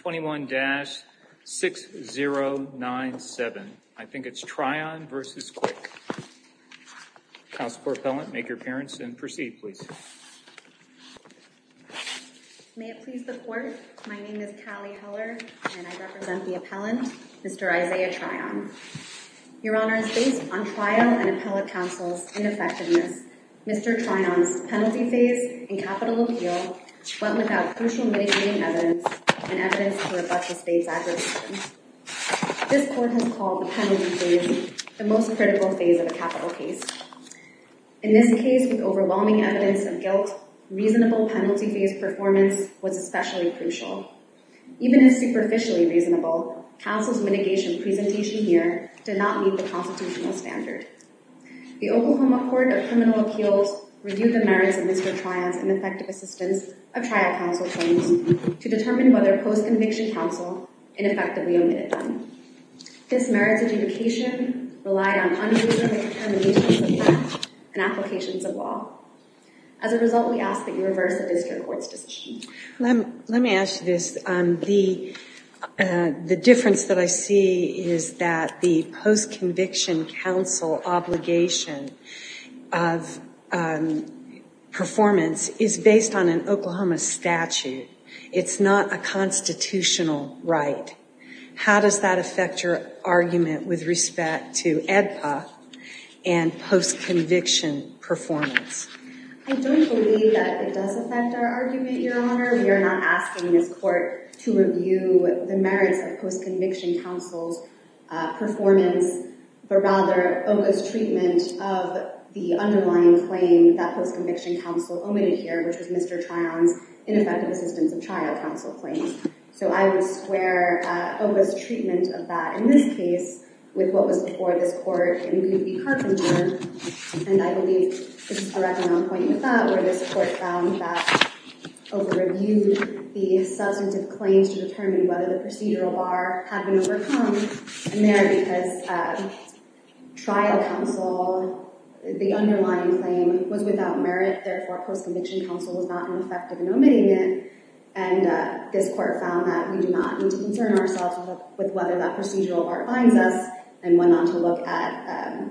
21-6097. I think it's Tryon v. Quick. Counsel for Appellant, make your appearance and proceed, please. May it please the Court, my name is Callie Heller, and I represent the Appellant, Mr. Isaiah Tryon. Your Honor, it is based on trial and appellate counsel's ineffectiveness, Mr. Tryon's penalty phase in capital appeal, but without crucial mitigating evidence and evidence to rebut the State's acquisition. This Court has called the penalty phase the most critical phase of a capital case. In this case, with overwhelming evidence of guilt, reasonable penalty phase performance was especially crucial. Even if superficially reasonable, counsel's mitigation presentation here did not meet the constitutional standard. The Oklahoma Court of Criminal Appeals reviewed the merits of Mr. Tryon's ineffective assistance of trial counsel claims to determine whether post-conviction counsel ineffectively omitted them. This merits adjudication relied on unreasonable determinations of facts and applications of law. As a result, we ask that you reverse the district court's decision. Let me ask you this. The difference that I see is that the post-conviction counsel obligation of performance is based on an Oklahoma statute. It's not a constitutional right. How does that affect your argument with respect to AEDPA and post-conviction performance? I don't believe that it does affect our argument, Your Honor. We are not asking this court to review the merits of post-conviction counsel's performance, but rather focus treatment of the underlying claim that post-conviction counsel omitted here, which was Mr. Tryon's ineffective assistance of trial counsel claims. So I would square focus treatment of that in this case with what was before this court in Goofy Carpenter. And I believe this is a reckoning on point with that, where this court found that over-reviewed the substantive claims to determine whether the procedural bar had been overcome. And there, because trial counsel, the underlying claim was without merit, therefore post-conviction counsel was not ineffective in omitting it. And this court found that we do not need to concern ourselves with whether that procedural bar binds us and went on to look at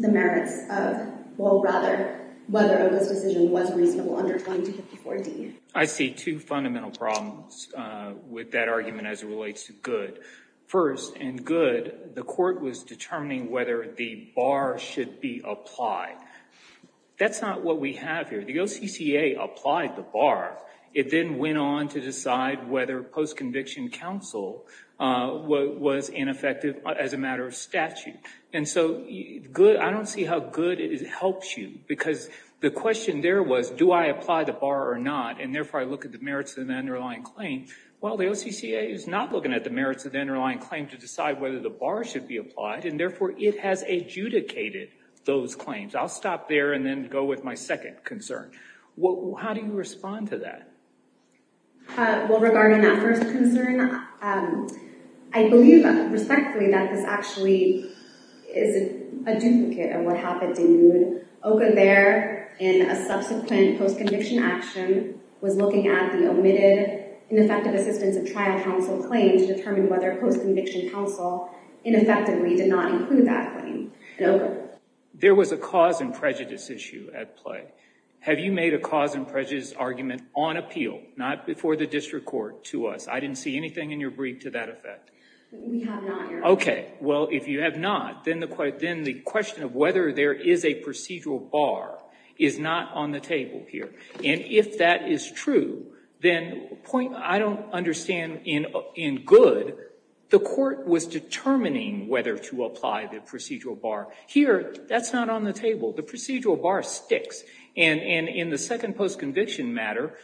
the merits of, well, rather, whether this decision was reasonable under 2254D. I see two fundamental problems with that argument as it relates to good. First, in good, the court was determining whether the bar should be applied. That's not what we have here. The OCCA applied the bar. It then went on to decide whether post-conviction counsel was ineffective as a matter of statute. And so I don't see how good it helps you, because the question there was, do I apply the bar or not, and therefore I look at the merits of the underlying claim. Well, the OCCA is not looking at the merits of the underlying claim to decide whether the bar should be applied, and therefore it has adjudicated those claims. I'll stop there and then go with my second concern. How do you respond to that? Well, regarding that first concern, I believe respectfully that this actually is a duplicate of what happened in good. OCCA there, in a subsequent post-conviction action, was looking at the omitted ineffective assistance of trial counsel claim to determine whether post-conviction counsel ineffectively did not include that claim in OCCA. There was a cause and prejudice issue at play. Have you made a cause and prejudice argument on appeal, not before the district court, to us? I didn't see anything in your brief to that effect. We have not, Your Honor. Okay. Well, if you have not, then the question of whether there is a procedural bar is not on the table here. And if that is true, then I don't understand in good the court was determining whether to apply the procedural bar. Here, that's not on the table. The procedural bar sticks. And in the second post-conviction matter,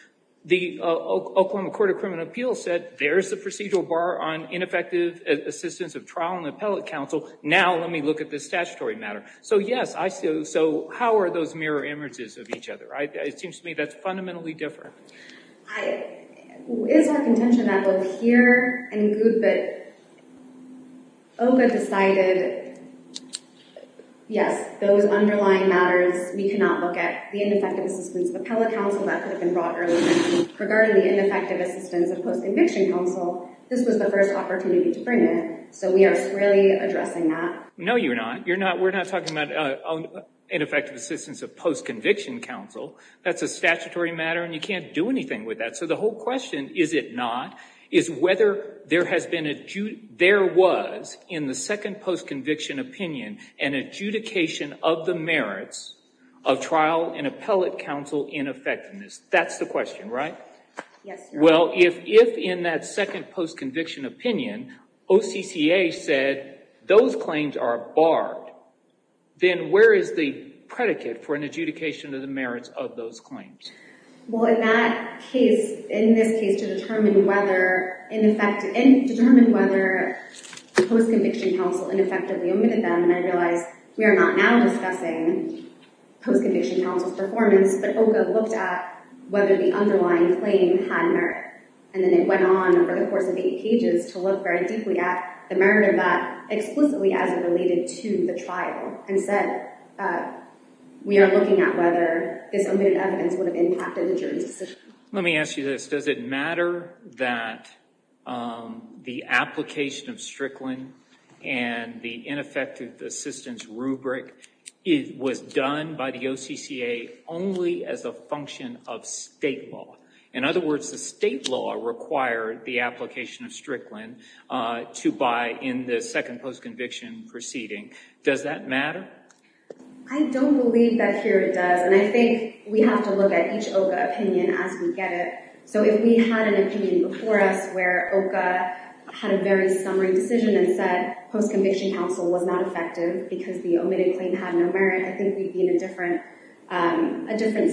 the Oklahoma Court of Criminal Appeals said there's the procedural bar on ineffective assistance of trial and appellate counsel. Now, let me look at this statutory matter. So, yes, I see. So how are those mirror images of each other? It seems to me that's fundamentally different. It is my contention that both here and in good that OCCA decided, yes, those underlying matters, we cannot look at the ineffective assistance of appellate counsel. Regarding the ineffective assistance of post-conviction counsel, this was the first opportunity to bring it. So we are squarely addressing that. No, you're not. You're not. We're not talking about ineffective assistance of post-conviction counsel. That's a statutory matter, and you can't do anything with that. So the whole question, is it not, is whether there was in the second post-conviction opinion an adjudication of the merits of trial and appellate counsel ineffectiveness? That's the question, right? Yes, Your Honor. Well, if in that second post-conviction opinion, OCCA said those claims are barred, then where is the predicate for an adjudication of the merits of those claims? Well, in that case, in this case, to determine whether, in effect, and I realize we are not now discussing post-conviction counsel's performance, but OCCA looked at whether the underlying claim had merit, and then it went on over the course of eight pages to look very deeply at the merit of that, explicitly as it related to the trial, and said, we are looking at whether this omitted evidence would have impacted the jury's decision. Let me ask you this. Does it matter that the application of Strickland and the ineffective assistance rubric was done by the OCCA only as a function of state law? In other words, the state law required the application of Strickland to buy in the second post-conviction proceeding. Does that matter? I don't believe that here it does, and I think we have to look at each OCA opinion as we get it. So if we had an opinion before us where OCA had a very summary decision and said post-conviction counsel was not effective because the omitted claim had no merit, I think we'd be in a different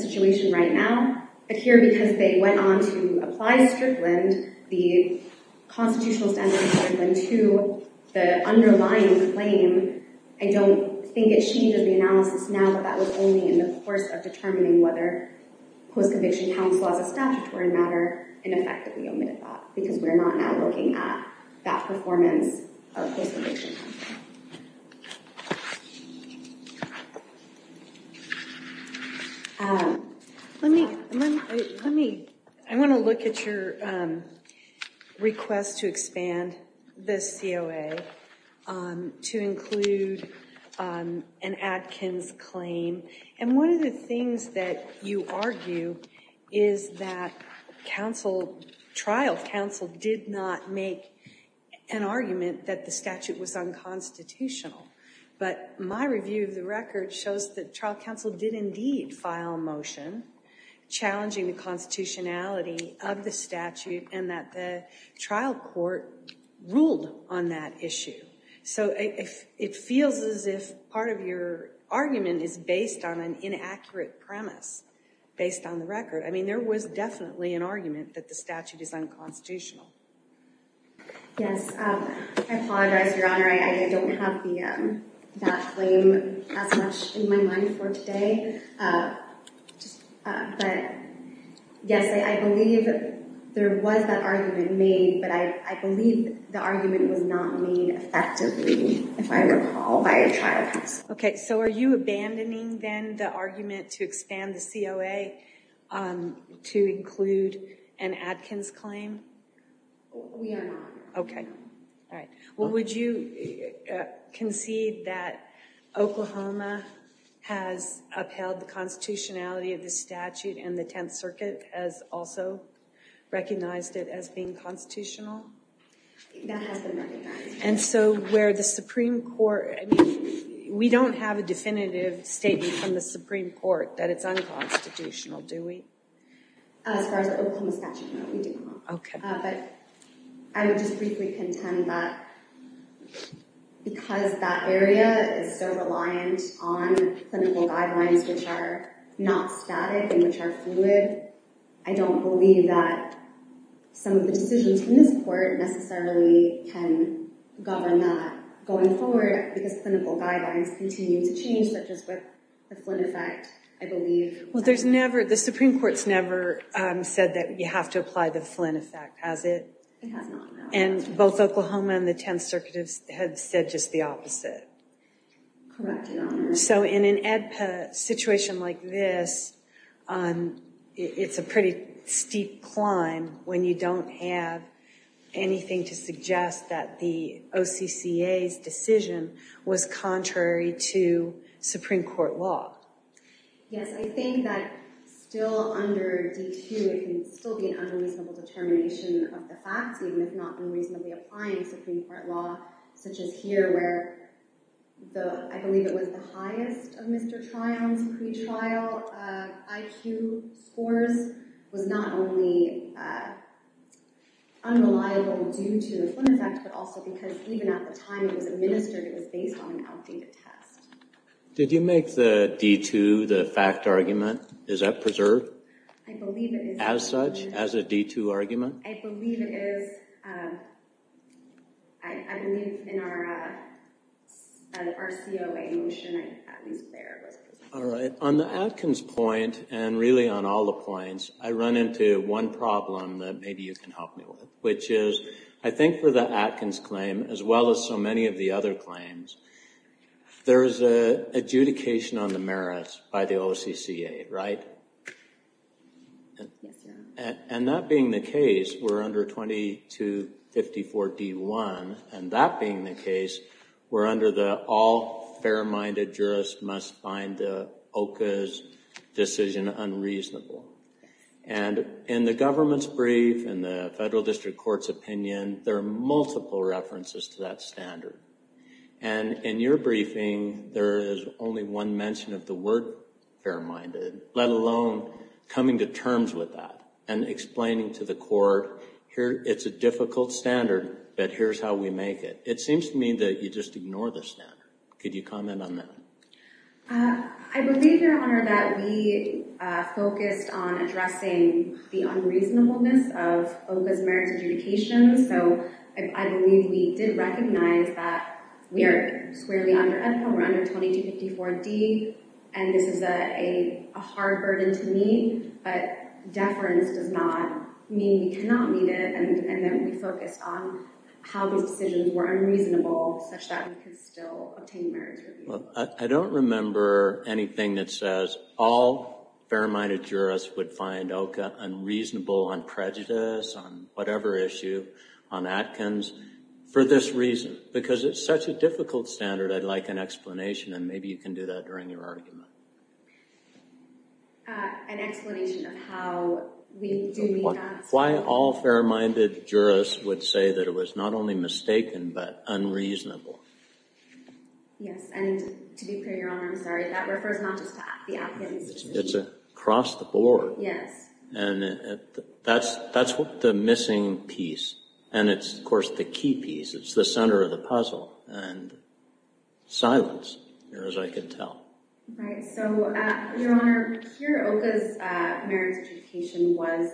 situation right now. But here, because they went on to apply Strickland, the constitutional standard of Strickland II, the underlying claim, I don't think it changes the analysis now, but that was only in the course of determining whether post-conviction counsel as a statutory matter ineffectively omitted that because we're not now looking at that performance of post-conviction counsel. Let me, I want to look at your request to expand the COA to include an Adkins claim. And one of the things that you argue is that trial counsel did not make an argument that the statute was unconstitutional. But my review of the record shows that trial counsel did indeed file a motion challenging the constitutionality of the statute and that the trial court ruled on that issue. So it feels as if part of your argument is based on an inaccurate premise, based on the record. I mean, there was definitely an argument that the statute is unconstitutional. Yes, I apologize, Your Honor, I don't have that claim as much in my mind for today. But yes, I believe there was that argument made, but I believe the argument was not made effectively, if I recall, by a trial counsel. Okay, so are you abandoning then the argument to expand the COA to include an Adkins claim? We are not. Okay, all right. Well, would you concede that Oklahoma has upheld the constitutionality of the statute and the Tenth Circuit has also recognized it as being constitutional? That has been recognized. And so where the Supreme Court, I mean, we don't have a definitive statement from the Supreme Court that it's unconstitutional, do we? As far as the Oklahoma statute, no, we do not. But I would just briefly contend that because that area is so reliant on clinical guidelines which are not static and which are fluid, I don't believe that some of the decisions in this court necessarily can govern that going forward because clinical guidelines continue to change, such as with the Flynn effect, I believe. Well, there's never, the Supreme Court's never said that you have to apply the Flynn effect, has it? It has not, no. And both Oklahoma and the Tenth Circuit have said just the opposite? Correct, Your Honor. So in an AEDPA situation like this, it's a pretty steep climb when you don't have anything to suggest that the OCCA's decision was contrary to Supreme Court law. Yes, I think that still under DQ, it can still be an unreasonable determination of the facts, even if not unreasonably applying Supreme Court law, such as here where the, I believe it was the highest of Mr. Triumph's pretrial IQ scores was not only unreliable due to the Flynn effect, but also because even at the time it was administered, it was based on an outdated test. Did you make the D2, the fact argument, is that preserved? I believe it is. As such, as a D2 argument? I believe it is. I believe in our COA motion, at least there, it was preserved. All right. On the Atkins point, and really on all the points, I run into one problem that maybe you can help me with, which is, I think for the Atkins claim, as well as so many of the other claims, there's adjudication on the merits by the OCCA, right? And that being the case, we're under 2254 D1, and that being the case, we're under the all fair-minded jurist must find the OCA's decision unreasonable. And in the government's brief, in the federal district court's opinion, there are multiple references to that standard. And in your briefing, there is only one mention of the word fair-minded, let alone coming to terms with that and explaining to the court, here, it's a difficult standard, but here's how we make it. It seems to me that you just ignore the standard. Could you comment on that? I believe, Your Honor, that we focused on addressing the unreasonableness of OCA's merits adjudication, so I believe we did recognize that we are squarely under Edna, we're under 2254 D, and this is a hard burden to meet, but deference does not mean we cannot meet it, and that we focused on how these decisions were unreasonable, such that we could still obtain merits review. I don't remember anything that says all fair-minded jurists would find OCA unreasonable on prejudice, on whatever issue, on Atkins, for this reason, because it's such a difficult standard, I'd like an explanation, and maybe you can do that during your argument. An explanation of how we do that. Why all fair-minded jurists would say that it was not only mistaken, but unreasonable. Yes, and to be clear, Your Honor, I'm sorry, that refers not just to the Atkins decision. It's across the board. Yes. And that's the missing piece, and it's, of course, the key piece, it's the center of the puzzle, and silence, as I can tell. Right, so, Your Honor, here OCA's merits adjudication was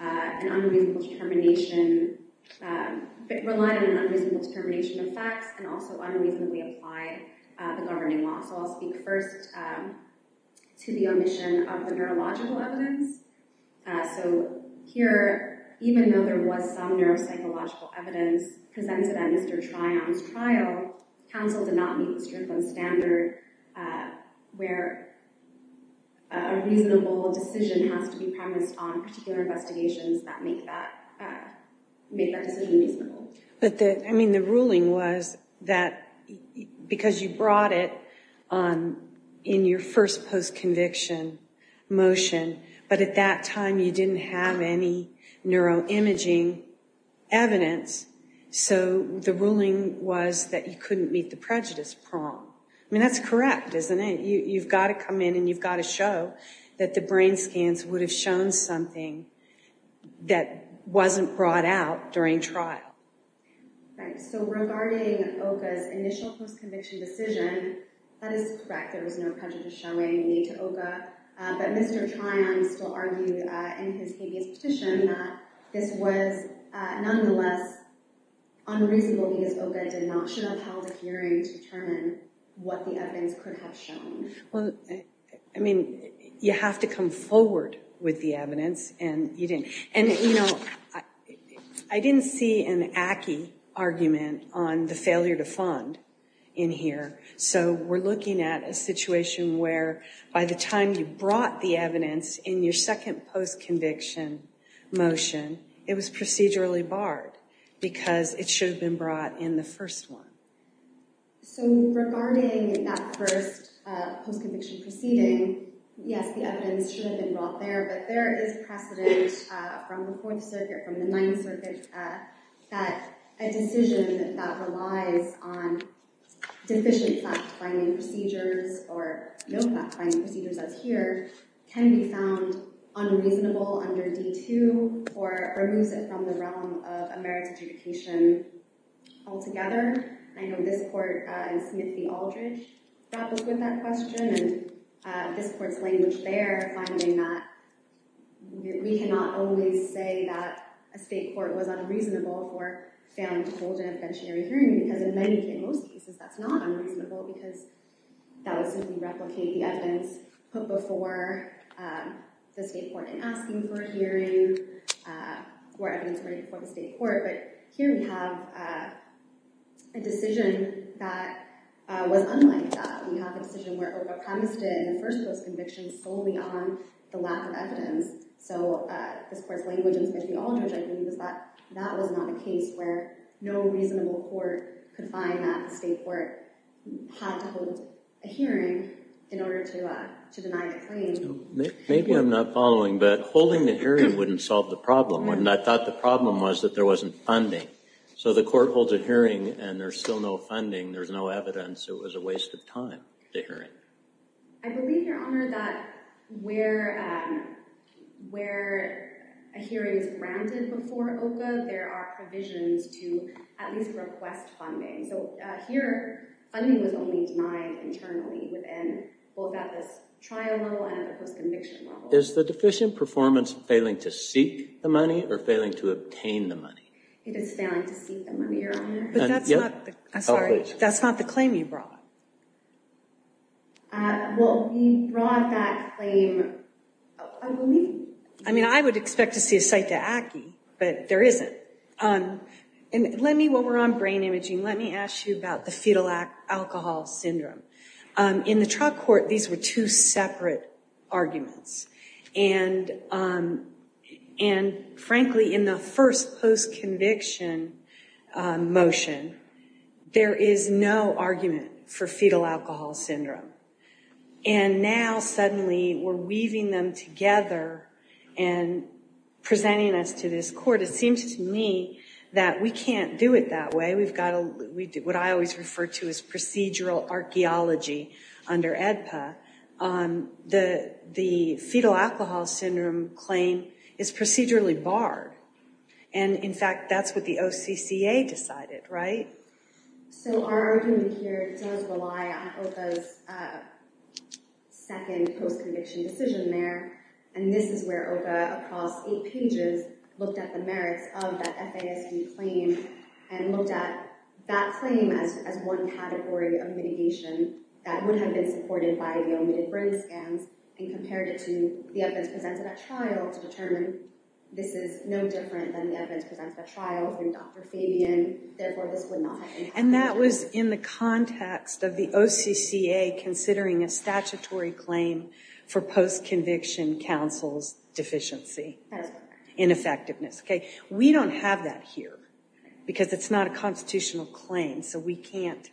an unreasonable determination, reliant on unreasonable determination of facts, and also unreasonably applied the governing law. So I'll speak first to the omission of the neurological evidence. So here, even though there was some neuropsychological evidence presented at Mr. Tryon's trial, counsel did not meet the Strickland standard where a reasonable decision has to be premised on particular investigations that make that decision reasonable. But the, I mean, the ruling was that, because you brought it in your first post-conviction motion, but at that time you didn't have any neuroimaging evidence, so the ruling was that you couldn't meet the prejudice prong. I mean, that's correct, isn't it? You've got to come in and you've got to show that the brain scans would have shown something that wasn't brought out during trial. Right, so regarding OCA's initial post-conviction decision, that is correct. There was no prejudice showing made to OCA, but Mr. Tryon still argued in his previous petition that this was nonetheless unreasonable because OCA did not show how the hearing to determine what the evidence could have shown. Well, I mean, you have to come forward with the evidence, and you didn't. And, you know, I didn't see an ACCI argument on the failure to fund in here, so we're looking at a situation where by the time you brought the evidence in your second post-conviction motion, it was procedurally barred because it should have been brought in the first one. So regarding that first post-conviction proceeding, yes, the evidence should have been brought there, but there is precedent from the Fourth Circuit, from the Ninth Circuit, that a decision that relies on deficient fact-finding procedures or no fact-finding procedures as here can be found unreasonable under D2 or removes it from the realm of a merits adjudication altogether. I know this court in Smith v. Aldridge grapples with that question, and this court's language there finding that we cannot always say that a state court was unreasonable for failing to hold an interventionary hearing because in many, in most cases, that's not unreasonable because that would simply replicate the evidence put before the state court in asking for a hearing or evidence put before the state court. But here we have a decision that was unlike that. We have a decision where a premise did in the first post-conviction solely on the lack of evidence. So this court's language in Smith v. Aldridge, I think, was that that was not a case where no reasonable court could find that the state court had to hold a hearing in order to deny the claim. Maybe I'm not following, but holding the hearing wouldn't solve the problem, and I thought the problem was that there wasn't funding. So the court holds a hearing and there's still no funding. There's no evidence. It was a waste of time, the hearing. I believe, Your Honor, that where a hearing is granted before OCA, there are provisions to at least request funding. So here, funding was only denied internally within both at this trial level and at the post-conviction level. Is the deficient performance failing to seek the money or failing to obtain the money? It is failing to seek the money, Your Honor. But that's not the claim you brought. Well, we brought that claim, I believe. I mean, I would expect to see a cite to ACCI, but there isn't. Let me, while we're on brain imaging, let me ask you about the fetal alcohol syndrome. In the trial court, these were two separate arguments. And frankly, in the first post-conviction motion, there is no argument for fetal alcohol syndrome. And now, suddenly, we're weaving them together and presenting us to this court. But it seems to me that we can't do it that way. We've got to, what I always refer to as procedural archaeology under AEDPA. The fetal alcohol syndrome claim is procedurally barred. And in fact, that's what the OCCA decided, right? So our argument here does rely on OCA's second post-conviction decision there. And this is where OCA, across eight pages, looked at the merits of that FASB claim and looked at that claim as one category of mitigation that would have been supported by the omitted brain scans and compared it to the evidence presented at trial to determine this is no different than the evidence presented at trial from Dr. Fabian. Therefore, this would not have been supported. And that was in the context of the OCCA considering a statutory claim for post-conviction counsel's deficiency in effectiveness. We don't have that here because it's not a constitutional claim. So we can't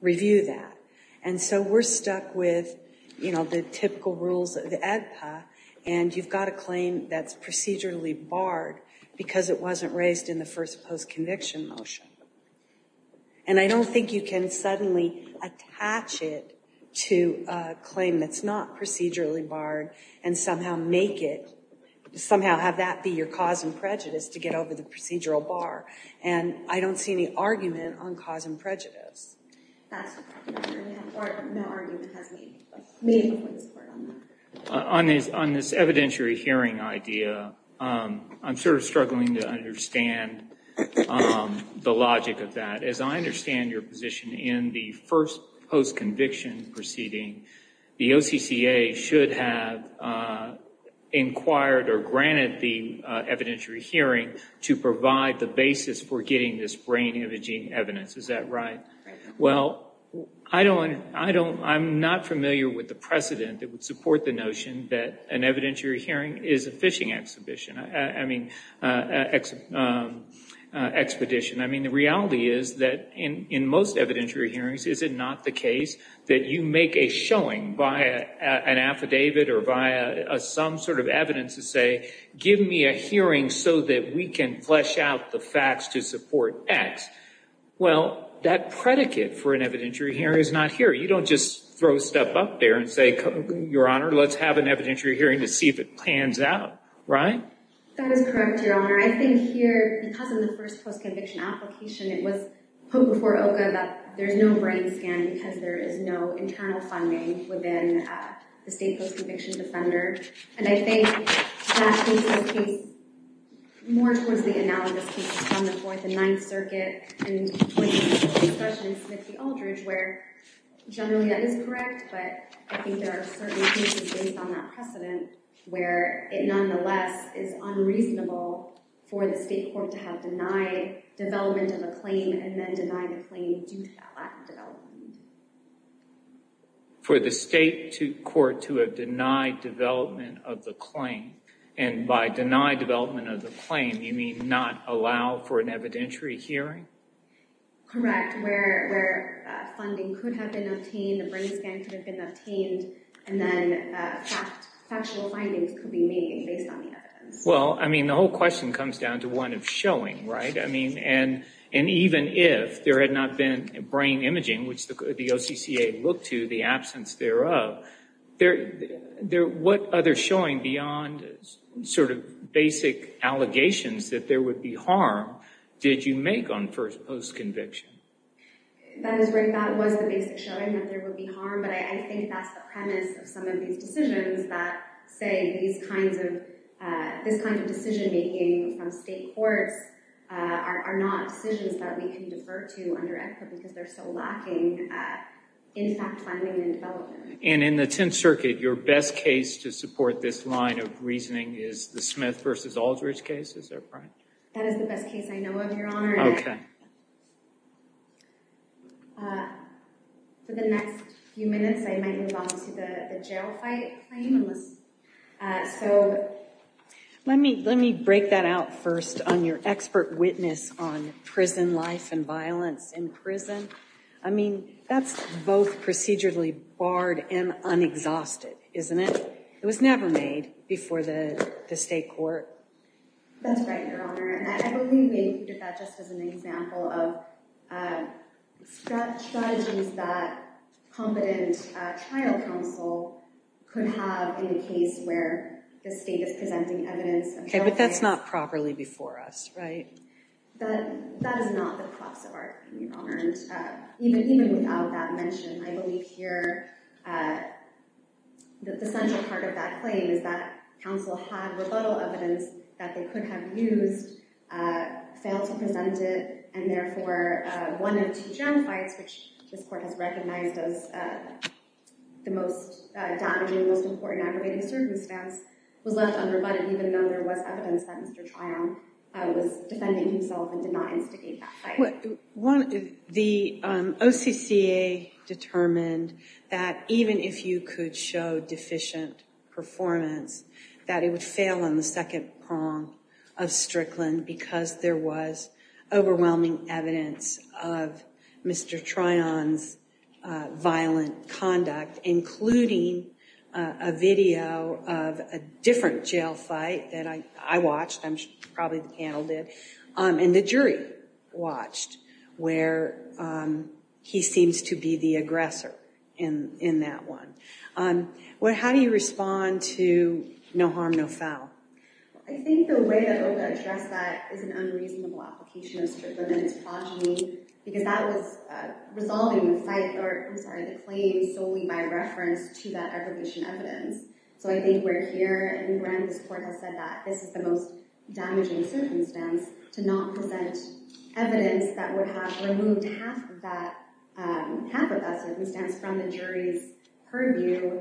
review that. And so we're stuck with the typical rules of AEDPA. And you've got a claim that's procedurally barred because it wasn't raised in the first post-conviction motion. And I don't think you can suddenly attach it to a claim that's not procedurally barred and somehow make it somehow have that be your cause and prejudice to get over the procedural bar. And I don't see any argument on cause and prejudice. No argument has been made before this court on that. On this evidentiary hearing idea, I'm sort of struggling to understand the logic of that. As I understand your position in the first post-conviction proceeding, the OCCA should have inquired or granted the evidentiary hearing to provide the basis for getting this brain imaging evidence. Is that right? Well, I'm not familiar with the precedent that would support the notion that an evidentiary hearing is a fishing expedition. I mean, the reality is that in most evidentiary hearings, is it not the case that you make a showing via an affidavit or via some sort of evidence to say, give me a hearing so that we can flesh out the facts to support X? Well, that predicate for an evidentiary hearing is not here. You don't just throw stuff up there and say, Your Honor, let's have an evidentiary hearing to see if it pans out. Right? That is correct, Your Honor. I think here, because of the first post-conviction application, it was put before OCCA that there's no brain scan because there is no internal funding within the state post-conviction defender. And I think that this is a case more towards the analogous cases from the Fourth and Ninth Circuit and towards the discussion in Smith v. Aldridge where generally that is correct, but I think there are certain cases based on that precedent where it nonetheless is unreasonable for the state court to have denied development of a claim and then denied a claim due to that lack of development. For the state court to have denied development of the claim, and by denied development of the claim, you mean not allow for an evidentiary hearing? Correct, where funding could have been obtained, a brain scan could have been obtained, and then factual findings could be made based on the evidence. Well, I mean, the whole question comes down to one of showing, right? I mean, and even if there had not been brain imaging, which the OCCA looked to, the absence thereof, what other showing beyond sort of basic allegations that there would be harm did you make on first post-conviction? That is right, that was the basic showing that there would be harm, but I think that's the premise of some of these decisions that say these kinds of, this kind of decision-making from state courts are not decisions that we can defer to under ECFA because they're so lacking in fact planning and development. And in the Tenth Circuit, your best case to support this line of reasoning is the Smith v. Aldridge case, is that right? That is the best case I know of, Your Honor. Okay. For the next few minutes, I might move on to the jail fight claim. So let me break that out first on your expert witness on prison life and violence in prison. I mean, that's both procedurally barred and unexhausted, isn't it? It was never made before the state court. That's right, Your Honor. And I believe they did that just as an example of strategies that competent trial counsel could have in the case where the state is presenting evidence. Okay, but that's not properly before us, right? That is not the crux of our case, Your Honor. Even without that mention, I believe here that the central part of that claim is that counsel had rebuttal evidence that they could have used, failed to present it, and therefore one of two jail fights, which this court has recognized as the most damaging, most important aggravating circumstance, was left unrebutted even though there was evidence that Mr. Trial was defending himself and did not instigate that fight. The OCCA determined that even if you could show deficient performance, that it would fail on the second prong of Strickland because there was overwhelming evidence of Mr. Trion's violent conduct, including a video of a different jail fight that I watched, probably the panel did, and the jury watched where he seems to be the aggressor in that one. How do you respond to no harm, no foul? I think the way that OCCA addressed that is an unreasonable application of Strickland and its progeny because that was resolving the claim solely by reference to that evidence. So I think we're here and this court has said that this is the most damaging circumstance to not present evidence that would have removed half of that circumstance from the jury's purview.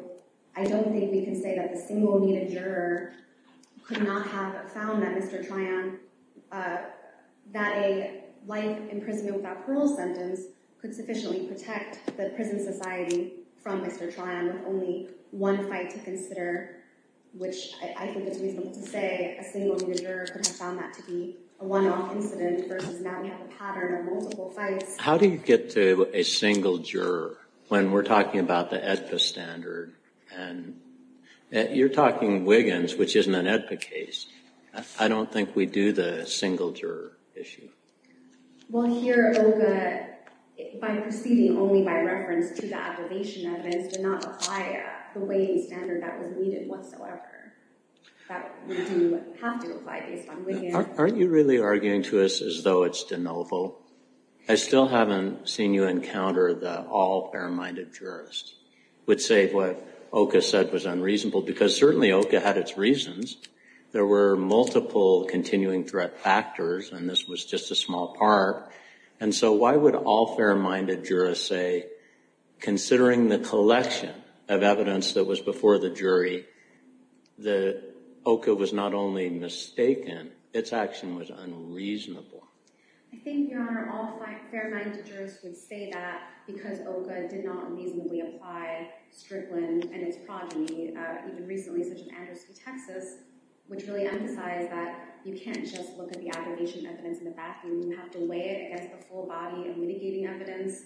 I don't think we can say that the single-needed juror could not have found that Mr. Trion, that a life imprisonment without parole sentence could sufficiently protect the prison society from Mr. Trion with only one fight to consider, which I think it's reasonable to say a single-needed juror could have found that to be a one-off incident versus now we have a pattern of multiple fights. How do you get to a single juror when we're talking about the AEDPA standard? You're talking Wiggins, which isn't an AEDPA case. I don't think we do the single-juror issue. Well, here OCCA, by proceeding only by reference to the abomination evidence, did not apply the weighting standard that was needed whatsoever. That would have to apply based on Wiggins. Aren't you really arguing to us as though it's de novo? I still haven't seen you encounter the all-fair-minded jurist would say what OCCA said was unreasonable because certainly OCCA had its reasons. There were multiple continuing threat factors, and this was just a small part. And so why would all-fair-minded jurists say, considering the collection of evidence that was before the jury, that OCCA was not only mistaken, its action was unreasonable? I think, Your Honor, all-fair-minded jurists would say that because OCCA did not reasonably apply Strickland and its progeny, even recently such as Andrews v. Texas, which really emphasized that you can't just look at the abomination evidence in the bathroom. You have to weigh it against the full body of mitigating evidence.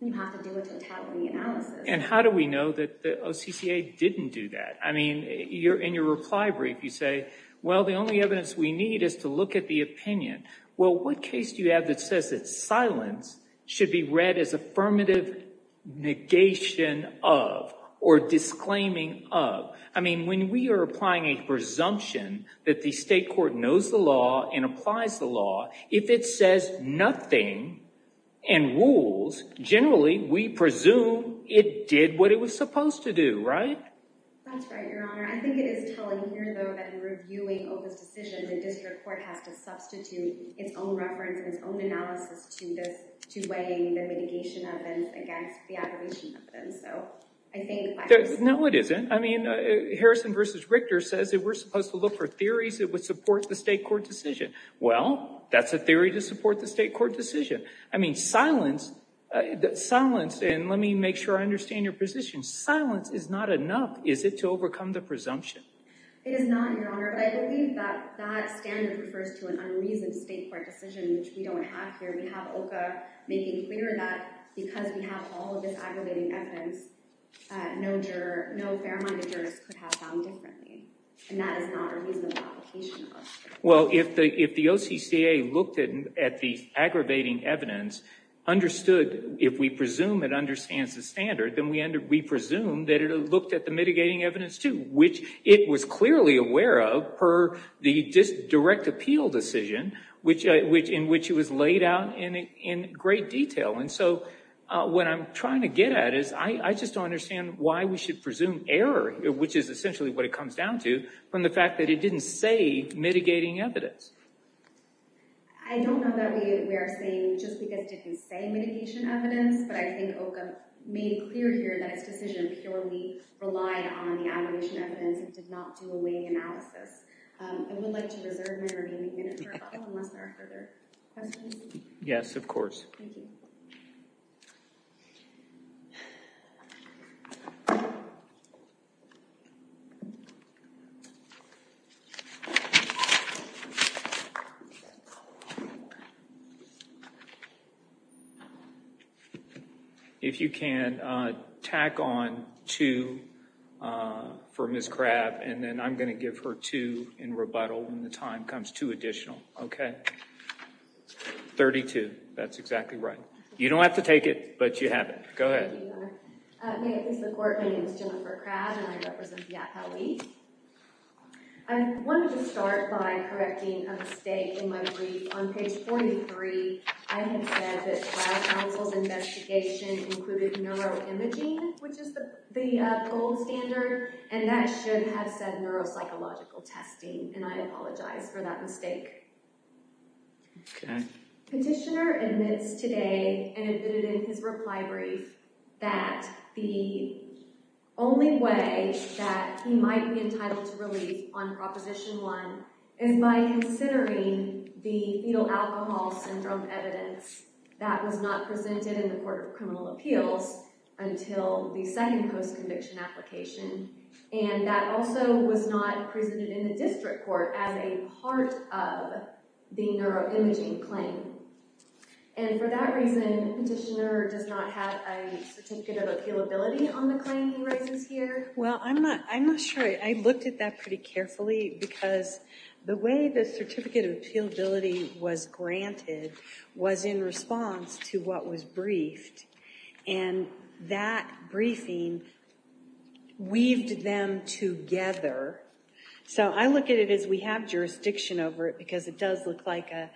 You have to do a totalitarian analysis. And how do we know that the OCCA didn't do that? I mean, in your reply brief, you say, well, the only evidence we need is to look at the opinion. Well, what case do you have that says that silence should be read as affirmative negation of or disclaiming of? I mean, when we are applying a presumption that the state court knows the law and applies the law, if it says nothing and rules, generally we presume it did what it was supposed to do, right? That's right, Your Honor. I think it is telling here, though, that in reviewing OCCA's decisions, the district court has to substitute its own reference and its own analysis to weighing the mitigation evidence against the abomination evidence. No, it isn't. I mean, Harrison v. Richter says that we're supposed to look for theories that would support the state court decision. Well, that's a theory to support the state court decision. I mean, silence, and let me make sure I understand your position. Silence is not enough, is it, to overcome the presumption? It is not, Your Honor. I believe that that standard refers to an unreasoned state court decision, which we don't have here. We have OCA making clear that because we have all of this aggravating evidence, no fair-minded jurist could have found differently, and that is not a reasonable application of OCCA. Well, if the OCCA looked at the aggravating evidence, understood, if we presume it understands the standard, then we presume that it looked at the mitigating evidence, too, which it was clearly aware of per the direct appeal decision in which it was laid out in great detail. And so what I'm trying to get at is I just don't understand why we should presume error, which is essentially what it comes down to, from the fact that it didn't say mitigating evidence. I don't know that we are saying just because it didn't say mitigation evidence, but I think OCA made it clear here that its decision purely relied on the aggravation evidence and did not do a weighing analysis. I would like to reserve my remaining minute for rebuttal unless there are further questions. Yes, of course. Thank you. If you can, tack on two for Ms. Crabb, and then I'm going to give her two in rebuttal when the time comes to additional. Okay. Thirty-two. That's exactly right. You don't have to take it, but you have it. Go ahead. Thank you, Your Honor. May it please the Court. My name is Jennifer Crabb, and I represent the APA League. I wanted to start by correcting a mistake in my brief. On page 43, I have said that trial counsel's investigation included neuroimaging, which is the gold standard, and that should have said neuropsychological testing, and I apologize for that mistake. Okay. Petitioner admits today, and admitted in his reply brief, that the only way that he might be entitled to relief on Proposition 1 is by considering the fetal alcohol syndrome evidence that was not presented in the Court of Criminal Appeals until the second post-conviction application, and that also was not presented in the district court as a part of the neuroimaging claim. And for that reason, Petitioner does not have a certificate of appealability on the claim he raises here. Well, I'm not sure. I looked at that pretty carefully because the way the certificate of appealability was granted was in response to what was briefed, and that briefing weaved them together. So I look at it as we have jurisdiction over it because it does look like a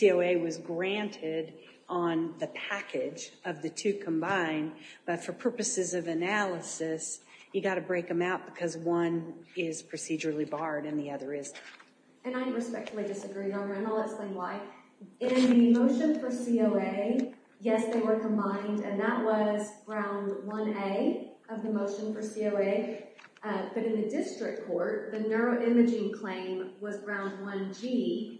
COA was granted on the package of the two combined, but for purposes of analysis, you've got to break them out because one is procedurally barred and the other isn't. And I respectfully disagree, Your Honor, and I'll explain why. In the motion for COA, yes, they were combined, and that was Ground 1A of the motion for COA, but in the district court, the neuroimaging claim was Ground 1G,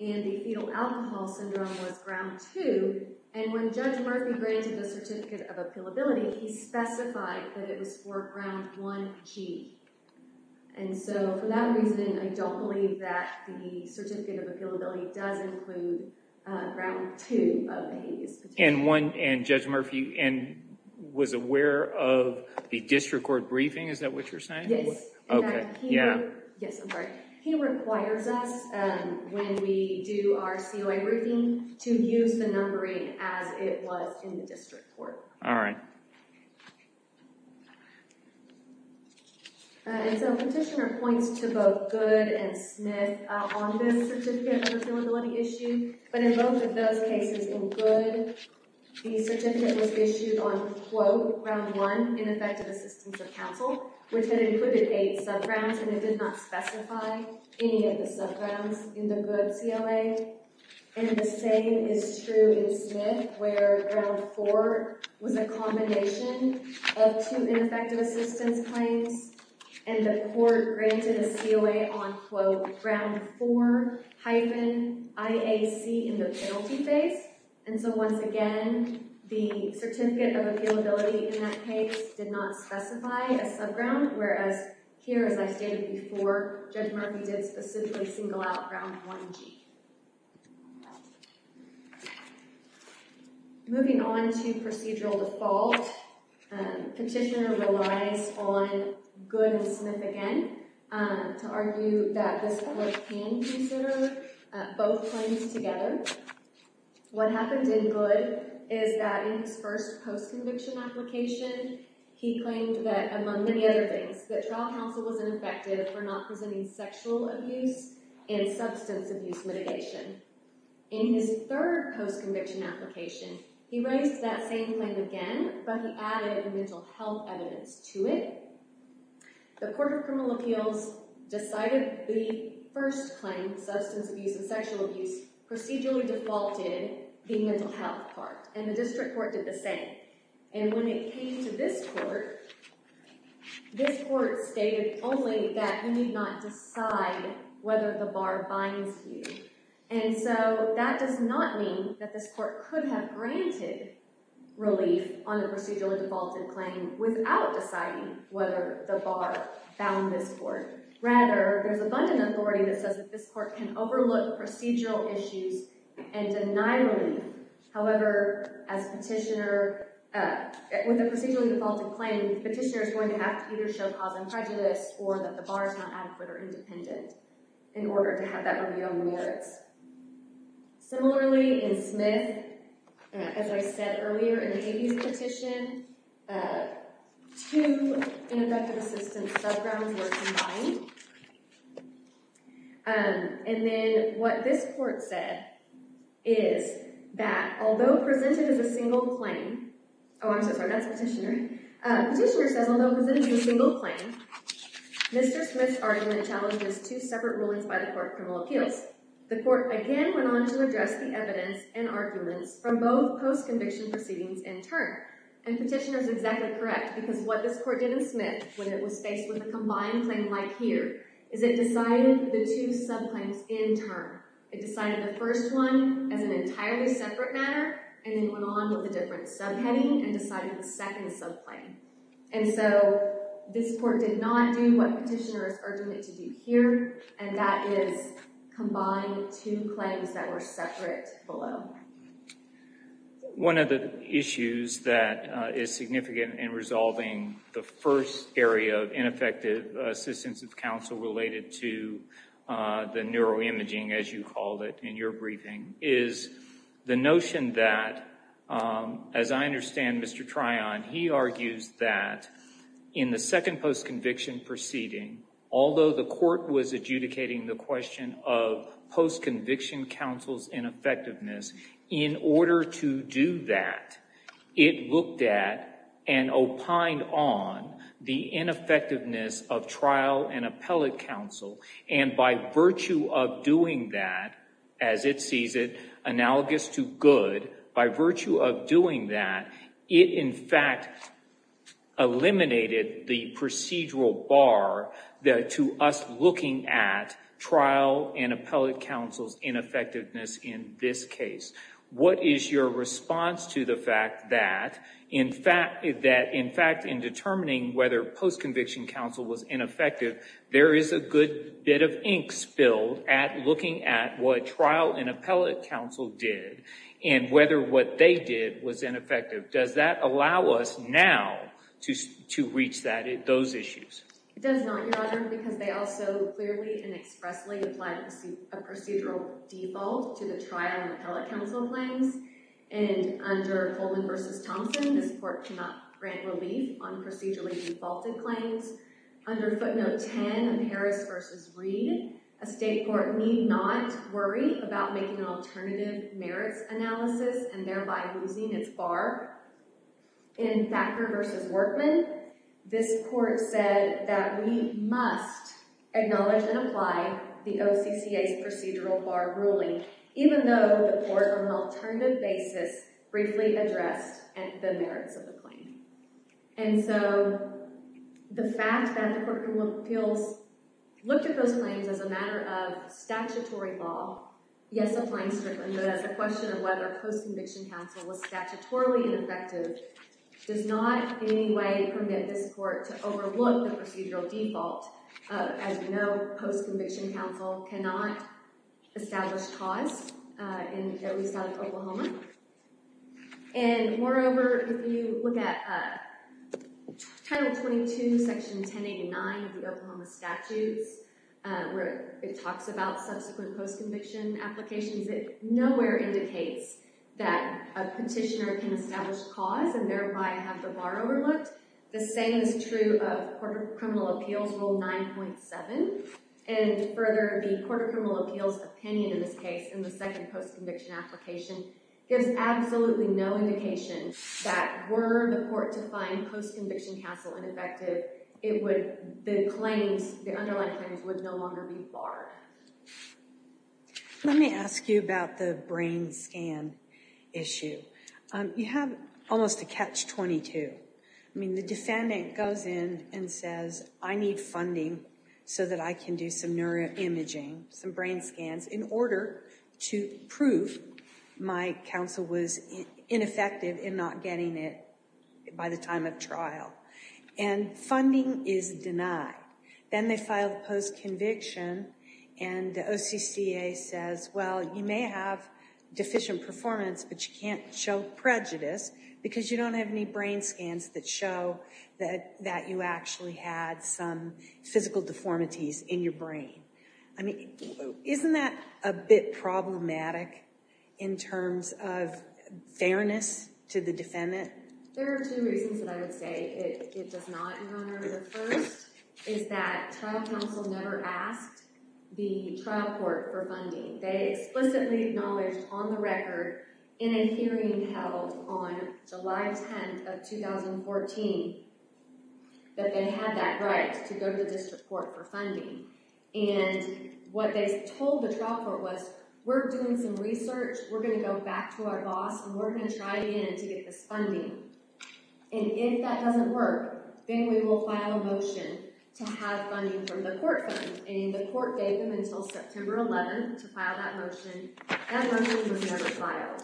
and the fetal alcohol syndrome was Ground 2, and when Judge Murphy granted the certificate of appealability, he specified that it was for Ground 1G. And so for that reason, I don't believe that the certificate of appealability does include Ground 2 of the habeas petition. And Judge Murphy was aware of the district court briefing? Is that what you're saying? Yes. Yes, I'm sorry. He requires us, when we do our COA briefing, to use the numbering as it was in the district court. All right. And so Petitioner points to both Goode and Smith on this certificate of appealability issue, but in both of those cases, in Goode, the certificate was issued on, quote, Ground 1, ineffective assistance of counsel, which had included eight subgrounds, and it did not specify any of the subgrounds in the Goode COA. And the same is true in Smith, where Ground 4 was a combination of two ineffective assistance claims, and the court granted a COA on, quote, Ground 4-IAC in the penalty phase. And so once again, the certificate of appealability in that case did not specify a subground, whereas here, as I stated before, Judge Murphy did specifically single out Ground 1-G. Moving on to procedural default, Petitioner relies on Goode and Smith again to argue that this court can consider both claims together. What happened in Goode is that in his first post-conviction application, he claimed that, among many other things, that trial counsel wasn't effective for not presenting sexual abuse and substance abuse mitigation. In his third post-conviction application, he raised that same claim again, but he added mental health evidence to it. The Court of Criminal Appeals decided the first claim, substance abuse and sexual abuse, procedurally defaulted the mental health part, and the district court did the same. And when it came to this court, this court stated only that you need not decide whether the bar binds you. And so that does not mean that this court could have granted relief on the procedurally defaulted claim without deciding whether the bar bound this court. Rather, there's abundant authority that says that this court can overlook procedural issues and deny relief. However, with a procedurally defaulted claim, Petitioner is going to have to either show cause and prejudice or that the bar is not adequate or independent in order to have that review on the merits. Similarly, in Smith, as I said earlier in Hagee's petition, two interdictive assistance subgrounds were combined. And then what this court said is that, although presented as a single claim—oh, I'm so sorry, that's Petitioner. Petitioner says, although presented as a single claim, Mr. Smith's argument challenges two separate rulings by the Court of Criminal Appeals. The court again went on to address the evidence and arguments from both post-conviction proceedings in turn. And Petitioner is exactly correct because what this court did in Smith when it was faced with a combined claim like here is it decided the two subclaims in turn. It decided the first one as an entirely separate matter and then went on with a different subheading and decided the second subclaim. And so this court did not do what Petitioner is urging it to do here, and that is combine two claims that were separate below. One of the issues that is significant in resolving the first area of ineffective assistance of counsel related to the neuroimaging, as you called it in your briefing, is the notion that, as I understand, Mr. Tryon, he argues that in the second post-conviction proceeding, although the court was adjudicating the question of post-conviction counsel's ineffectiveness, in order to do that, it looked at and opined on the ineffectiveness of trial and appellate counsel. And by virtue of doing that, as it sees it, analogous to good, by virtue of doing that, it in fact eliminated the procedural bar to us looking at trial and appellate counsel's ineffectiveness in this case. What is your response to the fact that, in fact, in determining whether post-conviction counsel was ineffective, there is a good bit of ink spilled at looking at what trial and appellate counsel did and whether what they did was ineffective. Does that allow us now to reach those issues? It does not, Your Honor, because they also clearly and expressly applied a procedural default to the trial and appellate counsel claims. And under Coleman v. Thompson, this court cannot grant relief on procedurally defaulted claims. Under footnote 10 of Harris v. Reed, a state court need not worry about making an alternative merits analysis and thereby losing its bar. In Thacker v. Workman, this court said that we must acknowledge and apply the OCCA's procedural bar ruling, even though the court, on an alternative basis, briefly addressed the merits of the claim. And so the fact that the Court of Appeals looked at those claims as a matter of statutory law, yes, applying strictly, but as a question of whether post-conviction counsel was statutorily ineffective, does not in any way permit this court to overlook the procedural default of, as we know, post-conviction counsel cannot establish cause, at least out of Oklahoma. And moreover, if you look at Title 22, Section 1089 of the Oklahoma Statutes, where it talks about subsequent post-conviction applications, it nowhere indicates that a petitioner can establish cause and thereby have the bar overlooked. The same is true of Court of Criminal Appeals Rule 9.7. And further, the Court of Criminal Appeals opinion in this case, in the second post-conviction application, gives absolutely no indication that were the court to find post-conviction counsel ineffective, the underlying claims would no longer be barred. Let me ask you about the brain scan issue. You have almost a catch-22. I mean, the defendant goes in and says, I need funding so that I can do some neuroimaging, some brain scans, in order to prove my counsel was ineffective in not getting it by the time of trial. And funding is denied. Then they file the post-conviction, and the OCCA says, well, you may have deficient performance, but you can't show prejudice because you don't have any brain scans that show that you actually had some physical deformities in your brain. I mean, isn't that a bit problematic in terms of fairness to the defendant? There are two reasons that I would say it does not, Your Honor. The first is that trial counsel never asked the trial court for funding. They explicitly acknowledged on the record in a hearing held on July 10th of 2014 that they had that right to go to the district court for funding. And what they told the trial court was, we're doing some research, we're going to go back to our boss, and we're going to try again to get this funding. And if that doesn't work, then we will file a motion to have funding from the court funds. And the court gave them until September 11th to file that motion. That motion was never filed.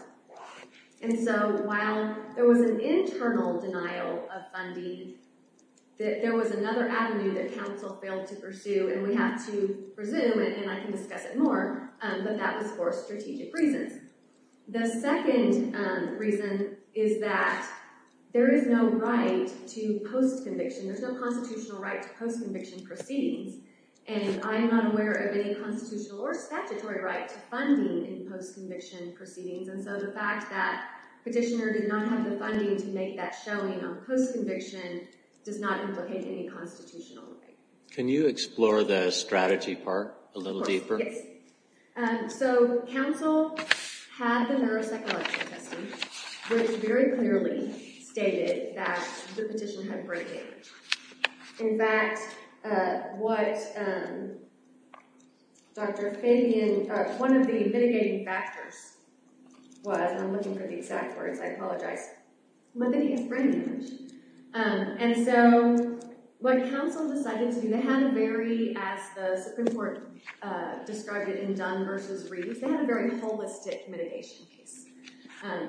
And so while there was an internal denial of funding, there was another avenue that counsel failed to pursue, and we have to presume, and I can discuss it more, but that was for strategic reasons. The second reason is that there is no right to post-conviction. There's no constitutional right to post-conviction proceedings, and I am not aware of any constitutional or statutory right to funding in post-conviction proceedings. And so the fact that Petitioner did not have the funding to make that showing on post-conviction does not implicate any constitutional right. Can you explore the strategy part a little deeper? Yes. So counsel had the neuropsychological testing, which very clearly stated that the petition had brain damage. In fact, what Dr. Fabian, one of the mitigating factors was, and I'm looking for the exact words, I apologize, but that he has brain damage. And so what counsel decided to do, they had a very, as the Supreme Court described it in Dunn v. Reed, they had a very holistic mitigation piece.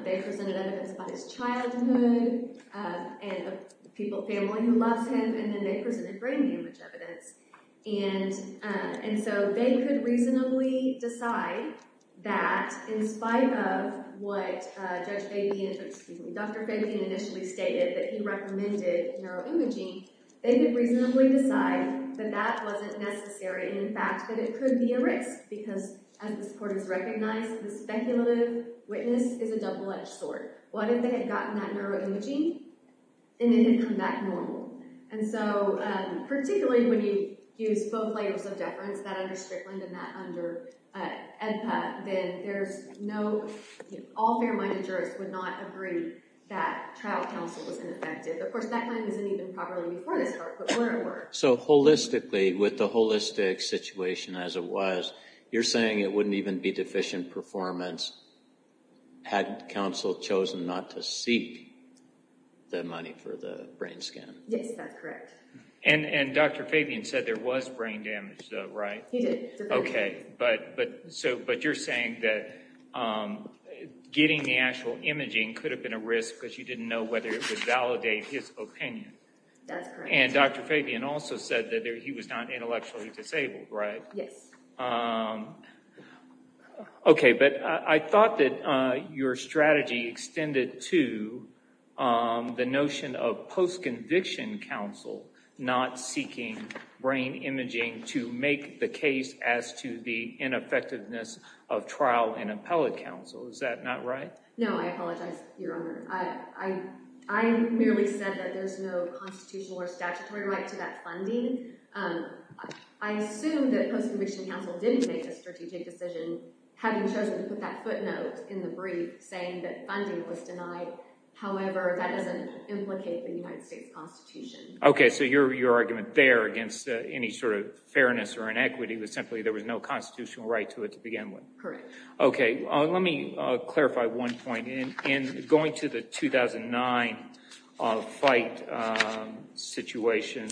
They presented evidence about his childhood and a family who loves him, and then they presented brain damage evidence. And so they could reasonably decide that in spite of what Judge Fabian, excuse me, Dr. Fabian initially stated that he recommended neuroimaging, they could reasonably decide that that wasn't necessary and in fact that it could be a risk because as the supporters recognized, the speculative witness is a double-edged sword. What if they had gotten that neuroimaging and it had come back normal? And so particularly when you use both layers of deference, that under Strickland and that under AEDPA, then there's no, all fair-minded jurists would not agree that trial counsel was ineffective. Of course, that claim wasn't even properly before this court, but where it worked. So holistically, with the holistic situation as it was, you're saying it wouldn't even be deficient performance had counsel chosen not to seek the money for the brain scan? Yes, that's correct. And Dr. Fabian said there was brain damage though, right? He did. Okay, but you're saying that getting the actual imaging could have been a risk because you didn't know whether it would validate his opinion. That's correct. And Dr. Fabian also said that he was not intellectually disabled, right? Yes. Okay, but I thought that your strategy extended to the notion of post-conviction counsel not seeking brain imaging to make the case as to the ineffectiveness of trial and appellate counsel. Is that not right? No, I apologize, Your Honor. I merely said that there's no constitutional or statutory right to that funding. I assume that post-conviction counsel didn't make a strategic decision, having chosen to put that footnote in the brief saying that funding was denied. However, that doesn't implicate the United States Constitution. Okay, so your argument there against any sort of fairness or inequity was simply there was no constitutional right to it to begin with. Correct. Okay, let me clarify one point. In going to the 2009 fight situation,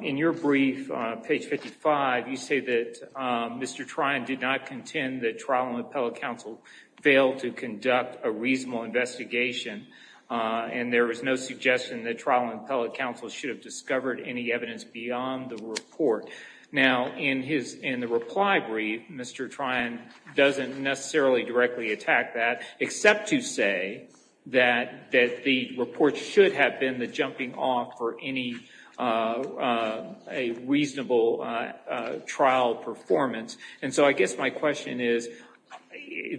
in your brief, page 55, you say that Mr. Tryon did not contend that trial and appellate counsel failed to conduct a reasonable investigation and there was no suggestion that trial and appellate counsel should have discovered any evidence beyond the report. Now, in the reply brief, Mr. Tryon doesn't necessarily directly attack that, except to say that the report should have been the jumping off for any reasonable trial performance. And so I guess my question is,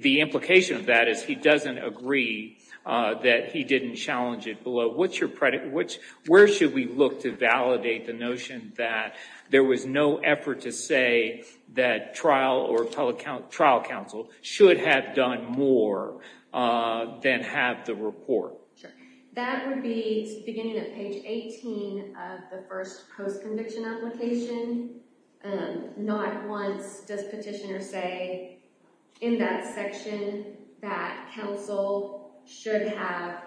the implication of that is he doesn't agree that he didn't challenge it below. Where should we look to validate the notion that there was no effort to say that trial or appellate trial counsel should have done more than have the report? That would be beginning of page 18 of the first post-conviction application. Not once does petitioner say in that section that counsel should have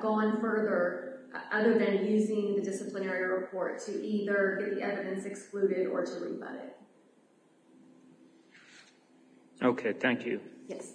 gone further other than using the disciplinary report to either get the evidence excluded or to rebut it. Okay, thank you. Yes.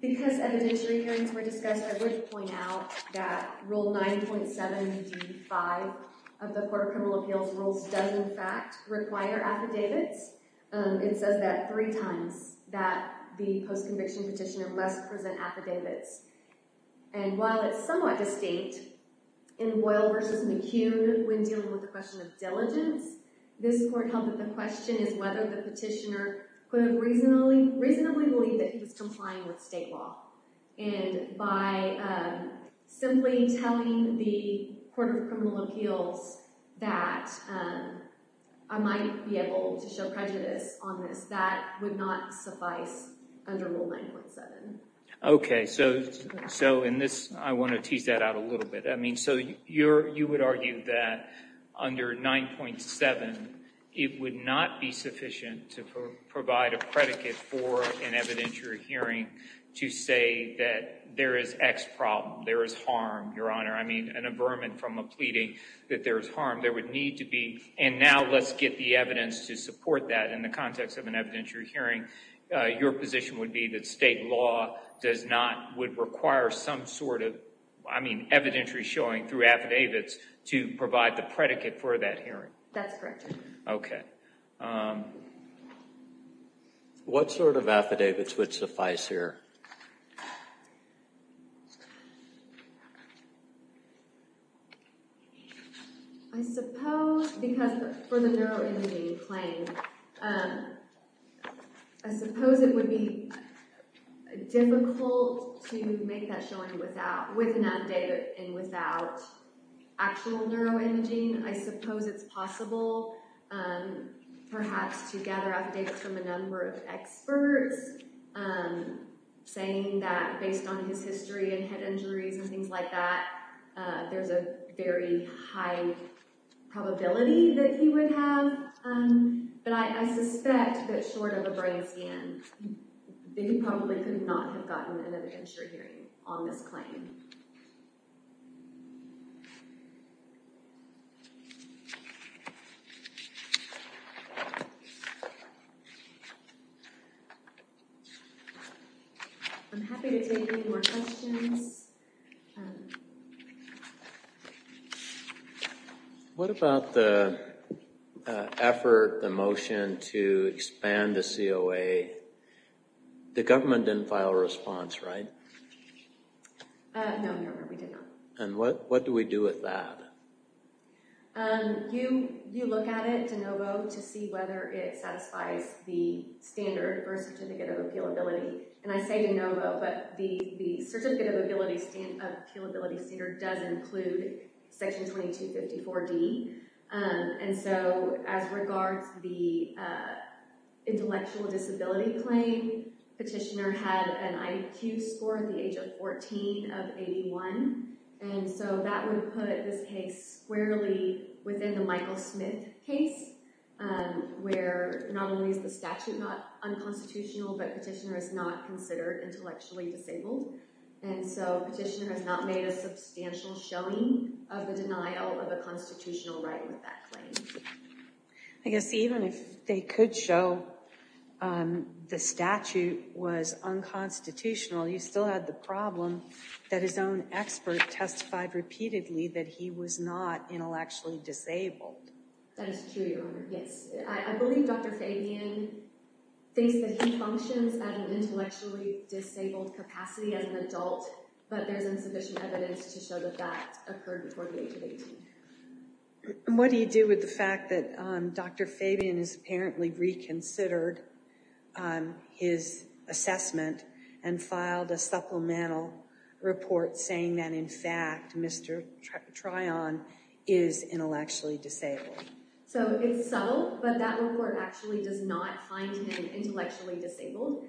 Because evidentiary hearings were discussed, I would point out that Rule 9.7 D.5 of the Court of Criminal Appeals rules does in fact require affidavits. It says that three times, that the post-conviction petitioner must present affidavits. And while it's somewhat distinct in Boyle v. McHugh when dealing with the question of diligence, this court held that the question is whether the petitioner could reasonably believe that he was complying with state law. And by simply telling the Court of Criminal Appeals that I might be able to show prejudice on this, that would not suffice under Rule 9.7. Okay, so in this, I want to tease that out a little bit. I mean, so you would argue that under 9.7, it would not be sufficient to provide a predicate for an evidentiary hearing to say that there is X problem, there is harm, Your Honor. I mean, an averment from a pleading that there is harm. There would need to be, and now let's get the evidence to support that in the context of an evidentiary hearing. Your position would be that state law does not, would require some sort of, I mean evidentiary showing through affidavits to provide the predicate for that hearing. That's correct, Your Honor. Okay. What sort of affidavits would suffice here? I suppose, because for the neuroimaging claim, I suppose it would be difficult to make that showing without, with an affidavit and without actual neuroimaging. I suppose it's possible perhaps to gather updates from a number of experts saying that based on his history and head injuries and things like that, there's a very high probability that he would have. But I suspect that short of a brain scan, that he probably could not have gotten an evidentiary hearing on this claim. Thank you. I'm happy to take any more questions. What about the effort, the motion to expand the COA? The government didn't file a response, right? No, Your Honor, we did not. And what do we do with that? You look at it, DeNovo, to see whether it satisfies the standard or certificate of appealability. And I say DeNovo, but the certificate of appealability standard does include Section 2254D. And so as regards the intellectual disability claim, petitioner had an IQ score at the age of 14 of 81. And so that would put this case squarely within the Michael Smith case, where not only is the statute not unconstitutional, but petitioner is not considered intellectually disabled. And so petitioner has not made a substantial showing of the denial of a constitutional right with that claim. I guess even if they could show the statute was unconstitutional, you still had the problem that his own expert testified repeatedly that he was not intellectually disabled. That is true, Your Honor, yes. I believe Dr. Fabian thinks that he functions at an intellectually disabled capacity as an adult, but there's insufficient evidence to show that that occurred before the age of 18. And what do you do with the fact that Dr. Fabian has apparently reconsidered his assessment and filed a supplemental report saying that, in fact, Mr. Tryon is intellectually disabled? So it's subtle, but that report actually does not find him intellectually disabled.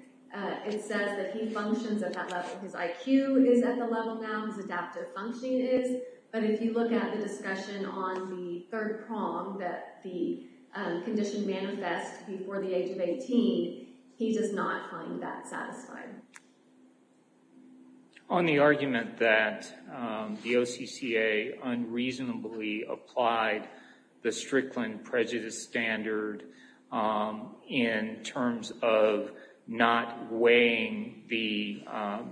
It says that he functions at that level. His IQ is at the level now. His adaptive functioning is. But if you look at the discussion on the third prong that the condition manifests before the age of 18, he does not find that satisfying. On the argument that the OCCA unreasonably applied the Strickland prejudice standard in terms of not weighing the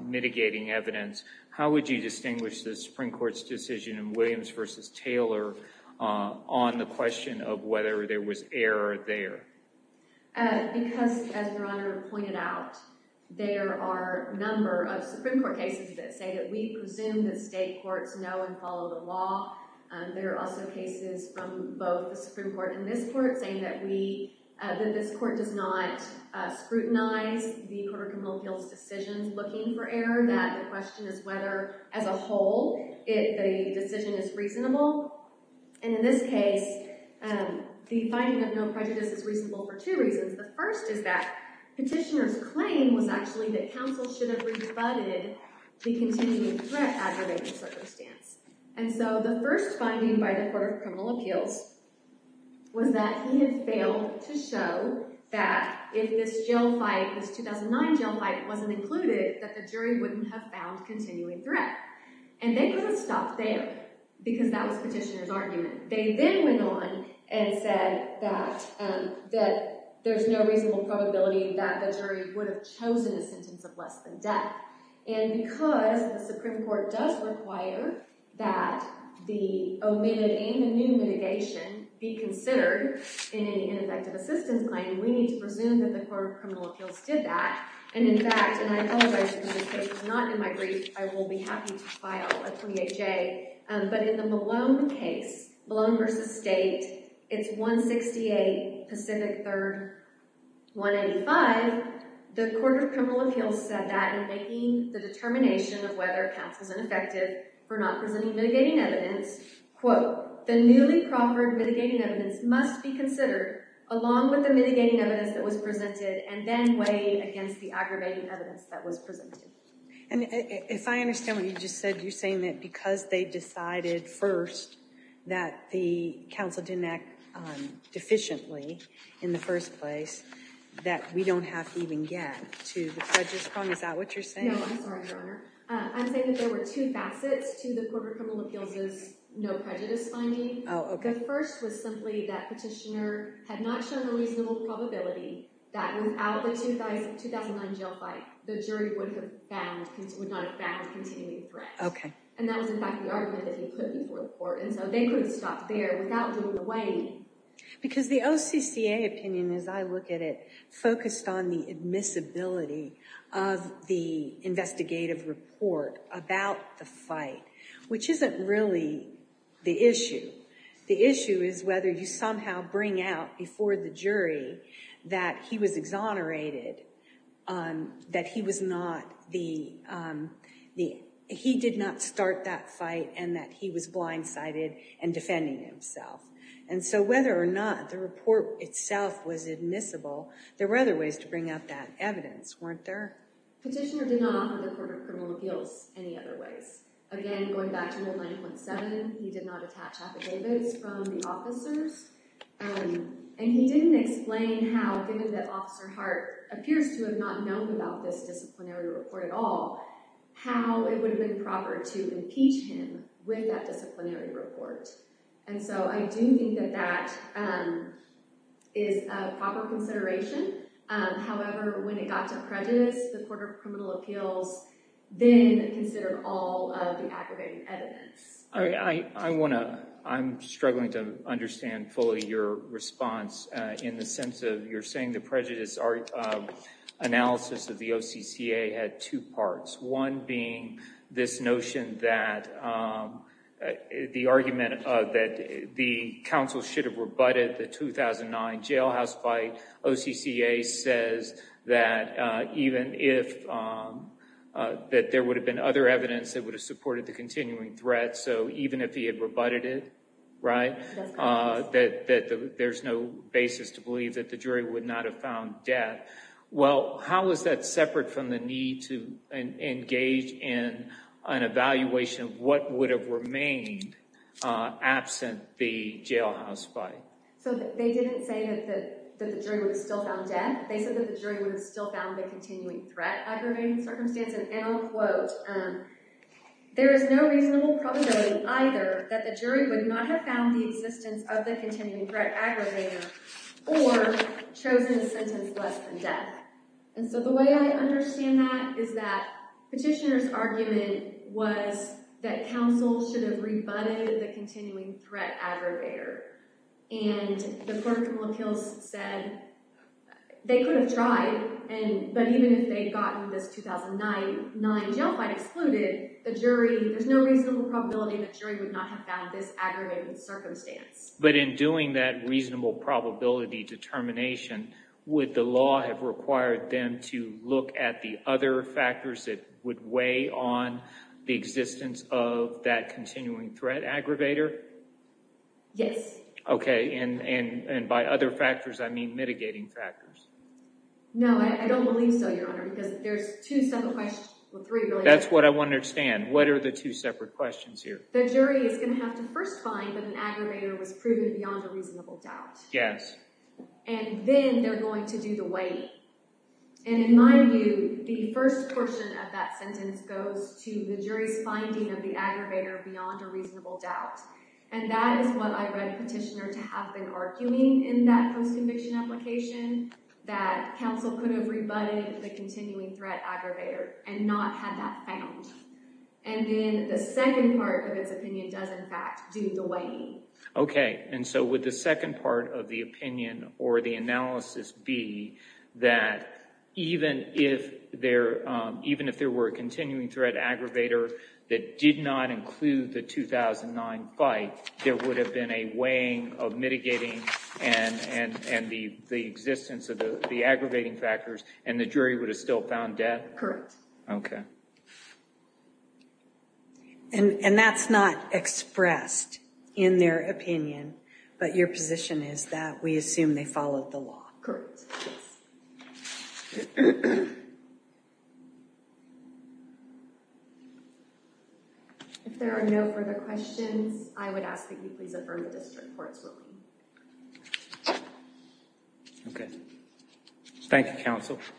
mitigating evidence, how would you distinguish the Supreme Court's decision in Williams v. Taylor on the question of whether there was error there? Because, as Your Honor pointed out, there are a number of Supreme Court cases that say that we presume that state courts know and follow the law. There are also cases from both the Supreme Court and this court saying that this court does not scrutinize the Court of Criminal Appeals' decisions looking for error, that the question is whether, as a whole, the decision is reasonable. And in this case, the finding of no prejudice is reasonable for two reasons. The first is that petitioner's claim was actually that counsel should have rebutted the continuing threat aggravating circumstance. And so the first finding by the Court of Criminal Appeals was that he had failed to show that if this jail fight, this 2009 jail fight, wasn't included, that the jury wouldn't have found continuing threat. And they couldn't stop there because that was petitioner's argument. They then went on and said that there's no reasonable probability that the jury would have chosen a sentence of less than death. And because the Supreme Court does require that the omitted and the new mitigation be considered in any ineffective assistance claim, we need to presume that the Court of Criminal Appeals did that. And, in fact, and I apologize because this case is not in my brief, I will be happy to file a PHA. But in the Malone case, Malone v. State, it's 168 Pacific 3rd, 185, the Court of Criminal Appeals said that in making the determination of whether counsel's ineffective for not presenting mitigating evidence, quote, the newly proffered mitigating evidence must be considered along with the mitigating evidence that was presented and then weighed against the aggravating evidence that was presented. And if I understand what you just said, you're saying that because they decided first that the counsel didn't act deficiently in the first place, that we don't have to even get to the prejudice point? Is that what you're saying? No, I'm sorry, Your Honor. I'm saying that there were two facets to the Court of Criminal Appeals' no prejudice finding. Oh, okay. The first was simply that Petitioner had not shown a reasonable probability that without the 2009 jail fight, the jury would not have found a continuing threat. Okay. And that was, in fact, the argument that he put before the Court, and so they couldn't stop there without doing away. Because the OCCA opinion, as I look at it, focused on the admissibility of the investigative report about the fight, which isn't really the issue. The issue is whether you somehow bring out before the jury that he was exonerated, that he did not start that fight, and that he was blindsided and defending himself. And so whether or not the report itself was admissible, there were other ways to bring out that evidence, weren't there? Petitioner did not offer the Court of Criminal Appeals any other ways. Again, going back to 9.7, he did not attach affidavits from the officers. And he didn't explain how, given that Officer Hart appears to have not known about this disciplinary report at all, how it would have been proper to impeach him with that disciplinary report. And so I do think that that is a proper consideration. However, when it got to prejudice, the Court of Criminal Appeals then considered all of the aggravated evidence. I'm struggling to understand fully your response in the sense of you're saying the prejudice analysis of the OCCA had two parts. One being this notion that the argument that the counsel should have rebutted the 2009 jailhouse fight. OCCA says that even if, that there would have been other evidence that would have supported the continuing threat. So even if he had rebutted it, right, that there's no basis to believe that the jury would not have found death. Well, how is that separate from the need to engage in an evaluation of what would have remained absent the jailhouse fight? So they didn't say that the jury would have still found death. They said that the jury would have still found the continuing threat aggravating circumstance. There is no reasonable probability either that the jury would not have found the existence of the continuing threat aggravator or chosen a sentence less than death. And so the way I understand that is that petitioner's argument was that counsel should have rebutted the continuing threat aggravator. And the court of appeals said they could have tried, but even if they had gotten this 2009 jail fight excluded, the jury, there's no reasonable probability that jury would not have found this aggravating circumstance. But in doing that reasonable probability determination, would the law have required them to look at the other factors that would weigh on the existence of that continuing threat aggravator? Yes. Okay. And by other factors, I mean mitigating factors. No, I don't believe so, Your Honor, because there's two separate questions. That's what I want to understand. What are the two separate questions here? The jury is going to have to first find that an aggravator was proven beyond a reasonable doubt. Yes. And then they're going to do the weight. And in my view, the first portion of that sentence goes to the jury's finding of the aggravator beyond a reasonable doubt. And that is what I read petitioner to have been arguing in that post-conviction application, that counsel could have rebutted the continuing threat aggravator and not have that found. And then the second part of its opinion does, in fact, do the weighting. Okay. And so would the second part of the opinion or the analysis be that even if there were a continuing threat aggravator that did not include the 2009 fight, there would have been a weighing of mitigating and the existence of the aggravating factors and the jury would have still found death? Correct. Okay. And that's not expressed in their opinion, but your position is that we assume they followed the law. Correct. Yes. If there are no further questions, I would ask that you please affirm the district court's ruling. Okay. Thank you, counsel. Thank you.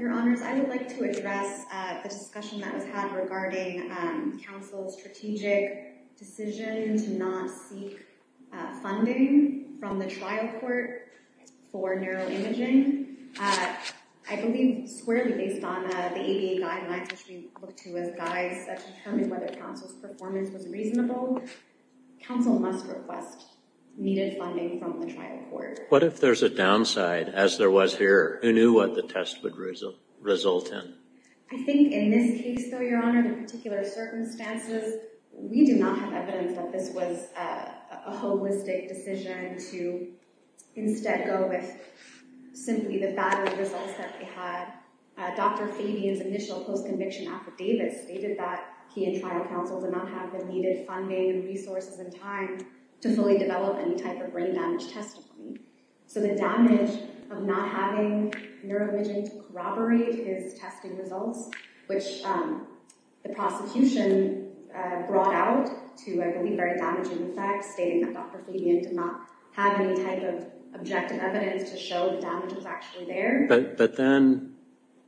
Your Honors, I would like to address the discussion that was had regarding counsel's strategic decision to not seek funding from the trial court for neuroimaging. I believe squarely based on the ADA guidelines, which we look to as guides that determine whether counsel's performance was reasonable, counsel must request needed funding from the trial court. What if there's a downside, as there was here? Who knew what the test would result in? I think in this case, though, Your Honor, the particular circumstances, we do not have evidence that this was a holistic decision to instead go with simply the bad results that we had. Dr. Fabian's initial post-conviction affidavit stated that he and trial counsel did not have the needed funding and resources and time to fully develop any type of brain damage testimony. So the damage of not having neuroimaging to corroborate his testing results, which the prosecution brought out to a very damaging effect, stating that Dr. Fabian did not have any type of objective evidence to show the damage was actually there. But then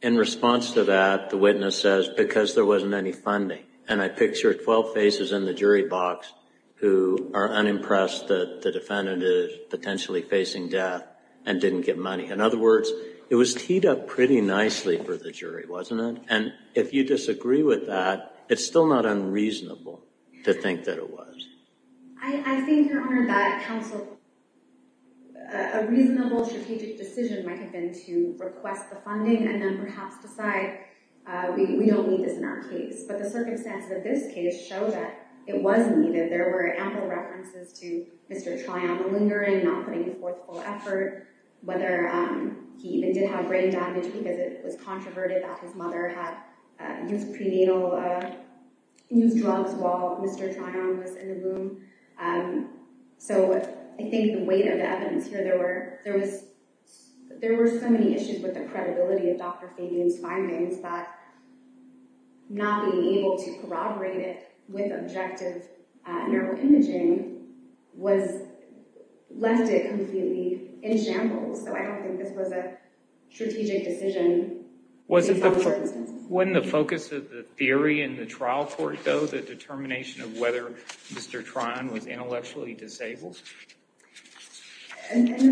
in response to that, the witness says, because there wasn't any funding. And I picture 12 faces in the jury box who are unimpressed that the defendant is potentially facing death and didn't get money. In other words, it was teed up pretty nicely for the jury, wasn't it? And if you disagree with that, it's still not unreasonable to think that it was. I think, Your Honor, that counsel, a reasonable strategic decision might have been to request the funding and then perhaps decide we don't need this in our case. But the circumstances of this case show that it was needed. There were ample references to Mr. Tryon lingering, not putting forth full effort, whether he even did have brain damage because it was controverted that his mother had used prenatal drugs while Mr. Tryon was in the room. So I think the weight of the evidence here, there were so many issues with the credibility of Dr. Fabian's findings, but not being able to corroborate it with objective neuroimaging left it completely in shambles. So I don't think this was a strategic decision. Wasn't the focus of the theory in the trial court, though, the determination of whether Mr. Tryon was intellectually disabled? But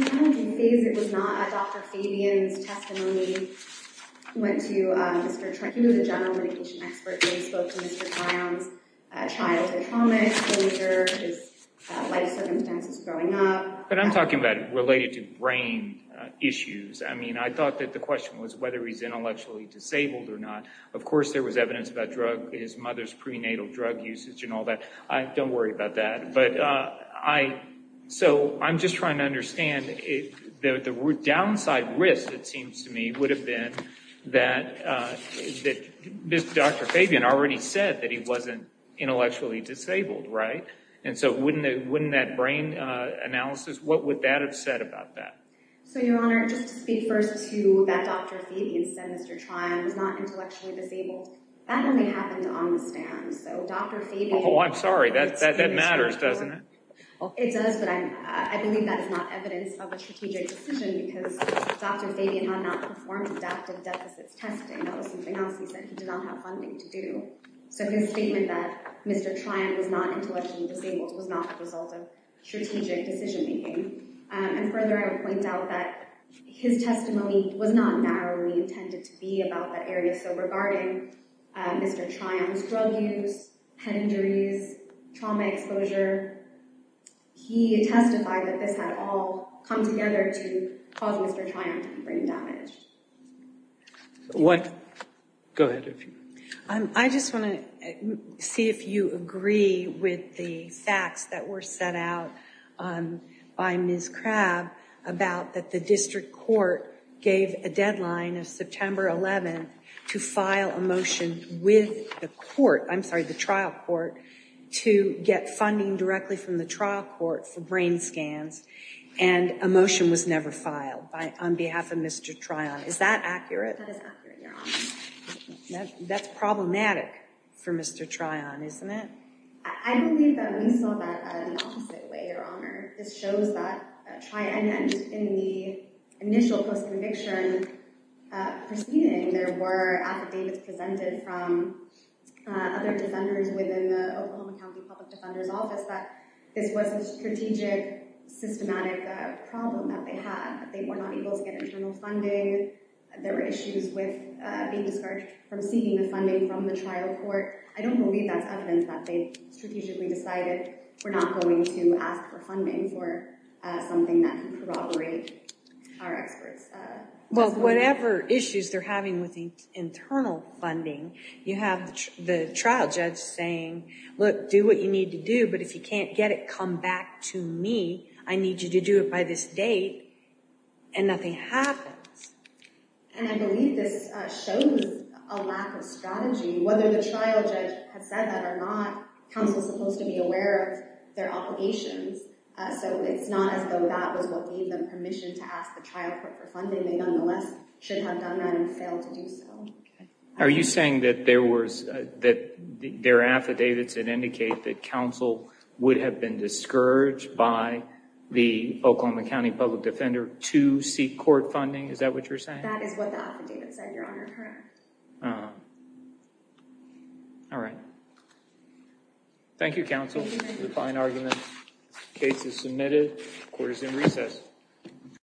I'm talking about related to brain issues. I mean, I thought that the question was whether he's intellectually disabled or not. Of course, there was evidence about his mother's prenatal drug usage and all that. Don't worry about that. But I'm just trying to understand the downside risk, it seems to me, would have been that Dr. Fabian already said that he wasn't intellectually disabled, right? And so wouldn't that brain analysis, what would that have said about that? So, Your Honor, just to speak first to that Dr. Fabian said Mr. Tryon was not intellectually disabled, that only happened on the stand. So Dr. Fabian— Oh, I'm sorry. That matters, doesn't it? It does, but I believe that is not evidence of a strategic decision because Dr. Fabian had not performed adaptive deficits testing. That was something else he said he did not have funding to do. So his statement that Mr. Tryon was not intellectually disabled was not the result of strategic decision-making. And further, I would point out that his testimony was not narrowly intended to be about that area. So regarding Mr. Tryon's drug use, head injuries, trauma exposure, he testified that this had all come together to cause Mr. Tryon brain damage. Go ahead. I just want to see if you agree with the facts that were set out by Ms. Crabb about that the district court gave a deadline of September 11th to file a motion with the trial court to get funding directly from the trial court for brain scans. And a motion was never filed on behalf of Mr. Tryon. Is that accurate? That is accurate, Your Honor. That's problematic for Mr. Tryon, isn't it? I believe that we saw that the opposite way, Your Honor. This shows that Tryon, in the initial post-conviction proceeding, there were affidavits presented from other defenders within the Oklahoma County Public Defender's Office that this was a strategic, systematic problem that they had. They were not able to get internal funding. There were issues with being discharged from seeking the funding from the trial court. I don't believe that's evidence that they strategically decided we're not going to ask for funding for something that could corroborate our experts' testimony. Whatever issues they're having with the internal funding, you have the trial judge saying, look, do what you need to do, but if you can't get it, come back to me. I need you to do it by this date. And nothing happens. And I believe this shows a lack of strategy. Whether the trial judge has said that or not, counsel is supposed to be aware of their obligations, so it's not as though that was what gave them permission to ask the trial court for funding. They, nonetheless, should have done that and failed to do so. Are you saying that there were affidavits that indicate that counsel would have been discouraged by the Oklahoma County Public Defender to seek court funding? Is that what you're saying? That is what the affidavit said, Your Honor. Correct. All right. Thank you, counsel, for the fine argument. Case is submitted. Court is in recess.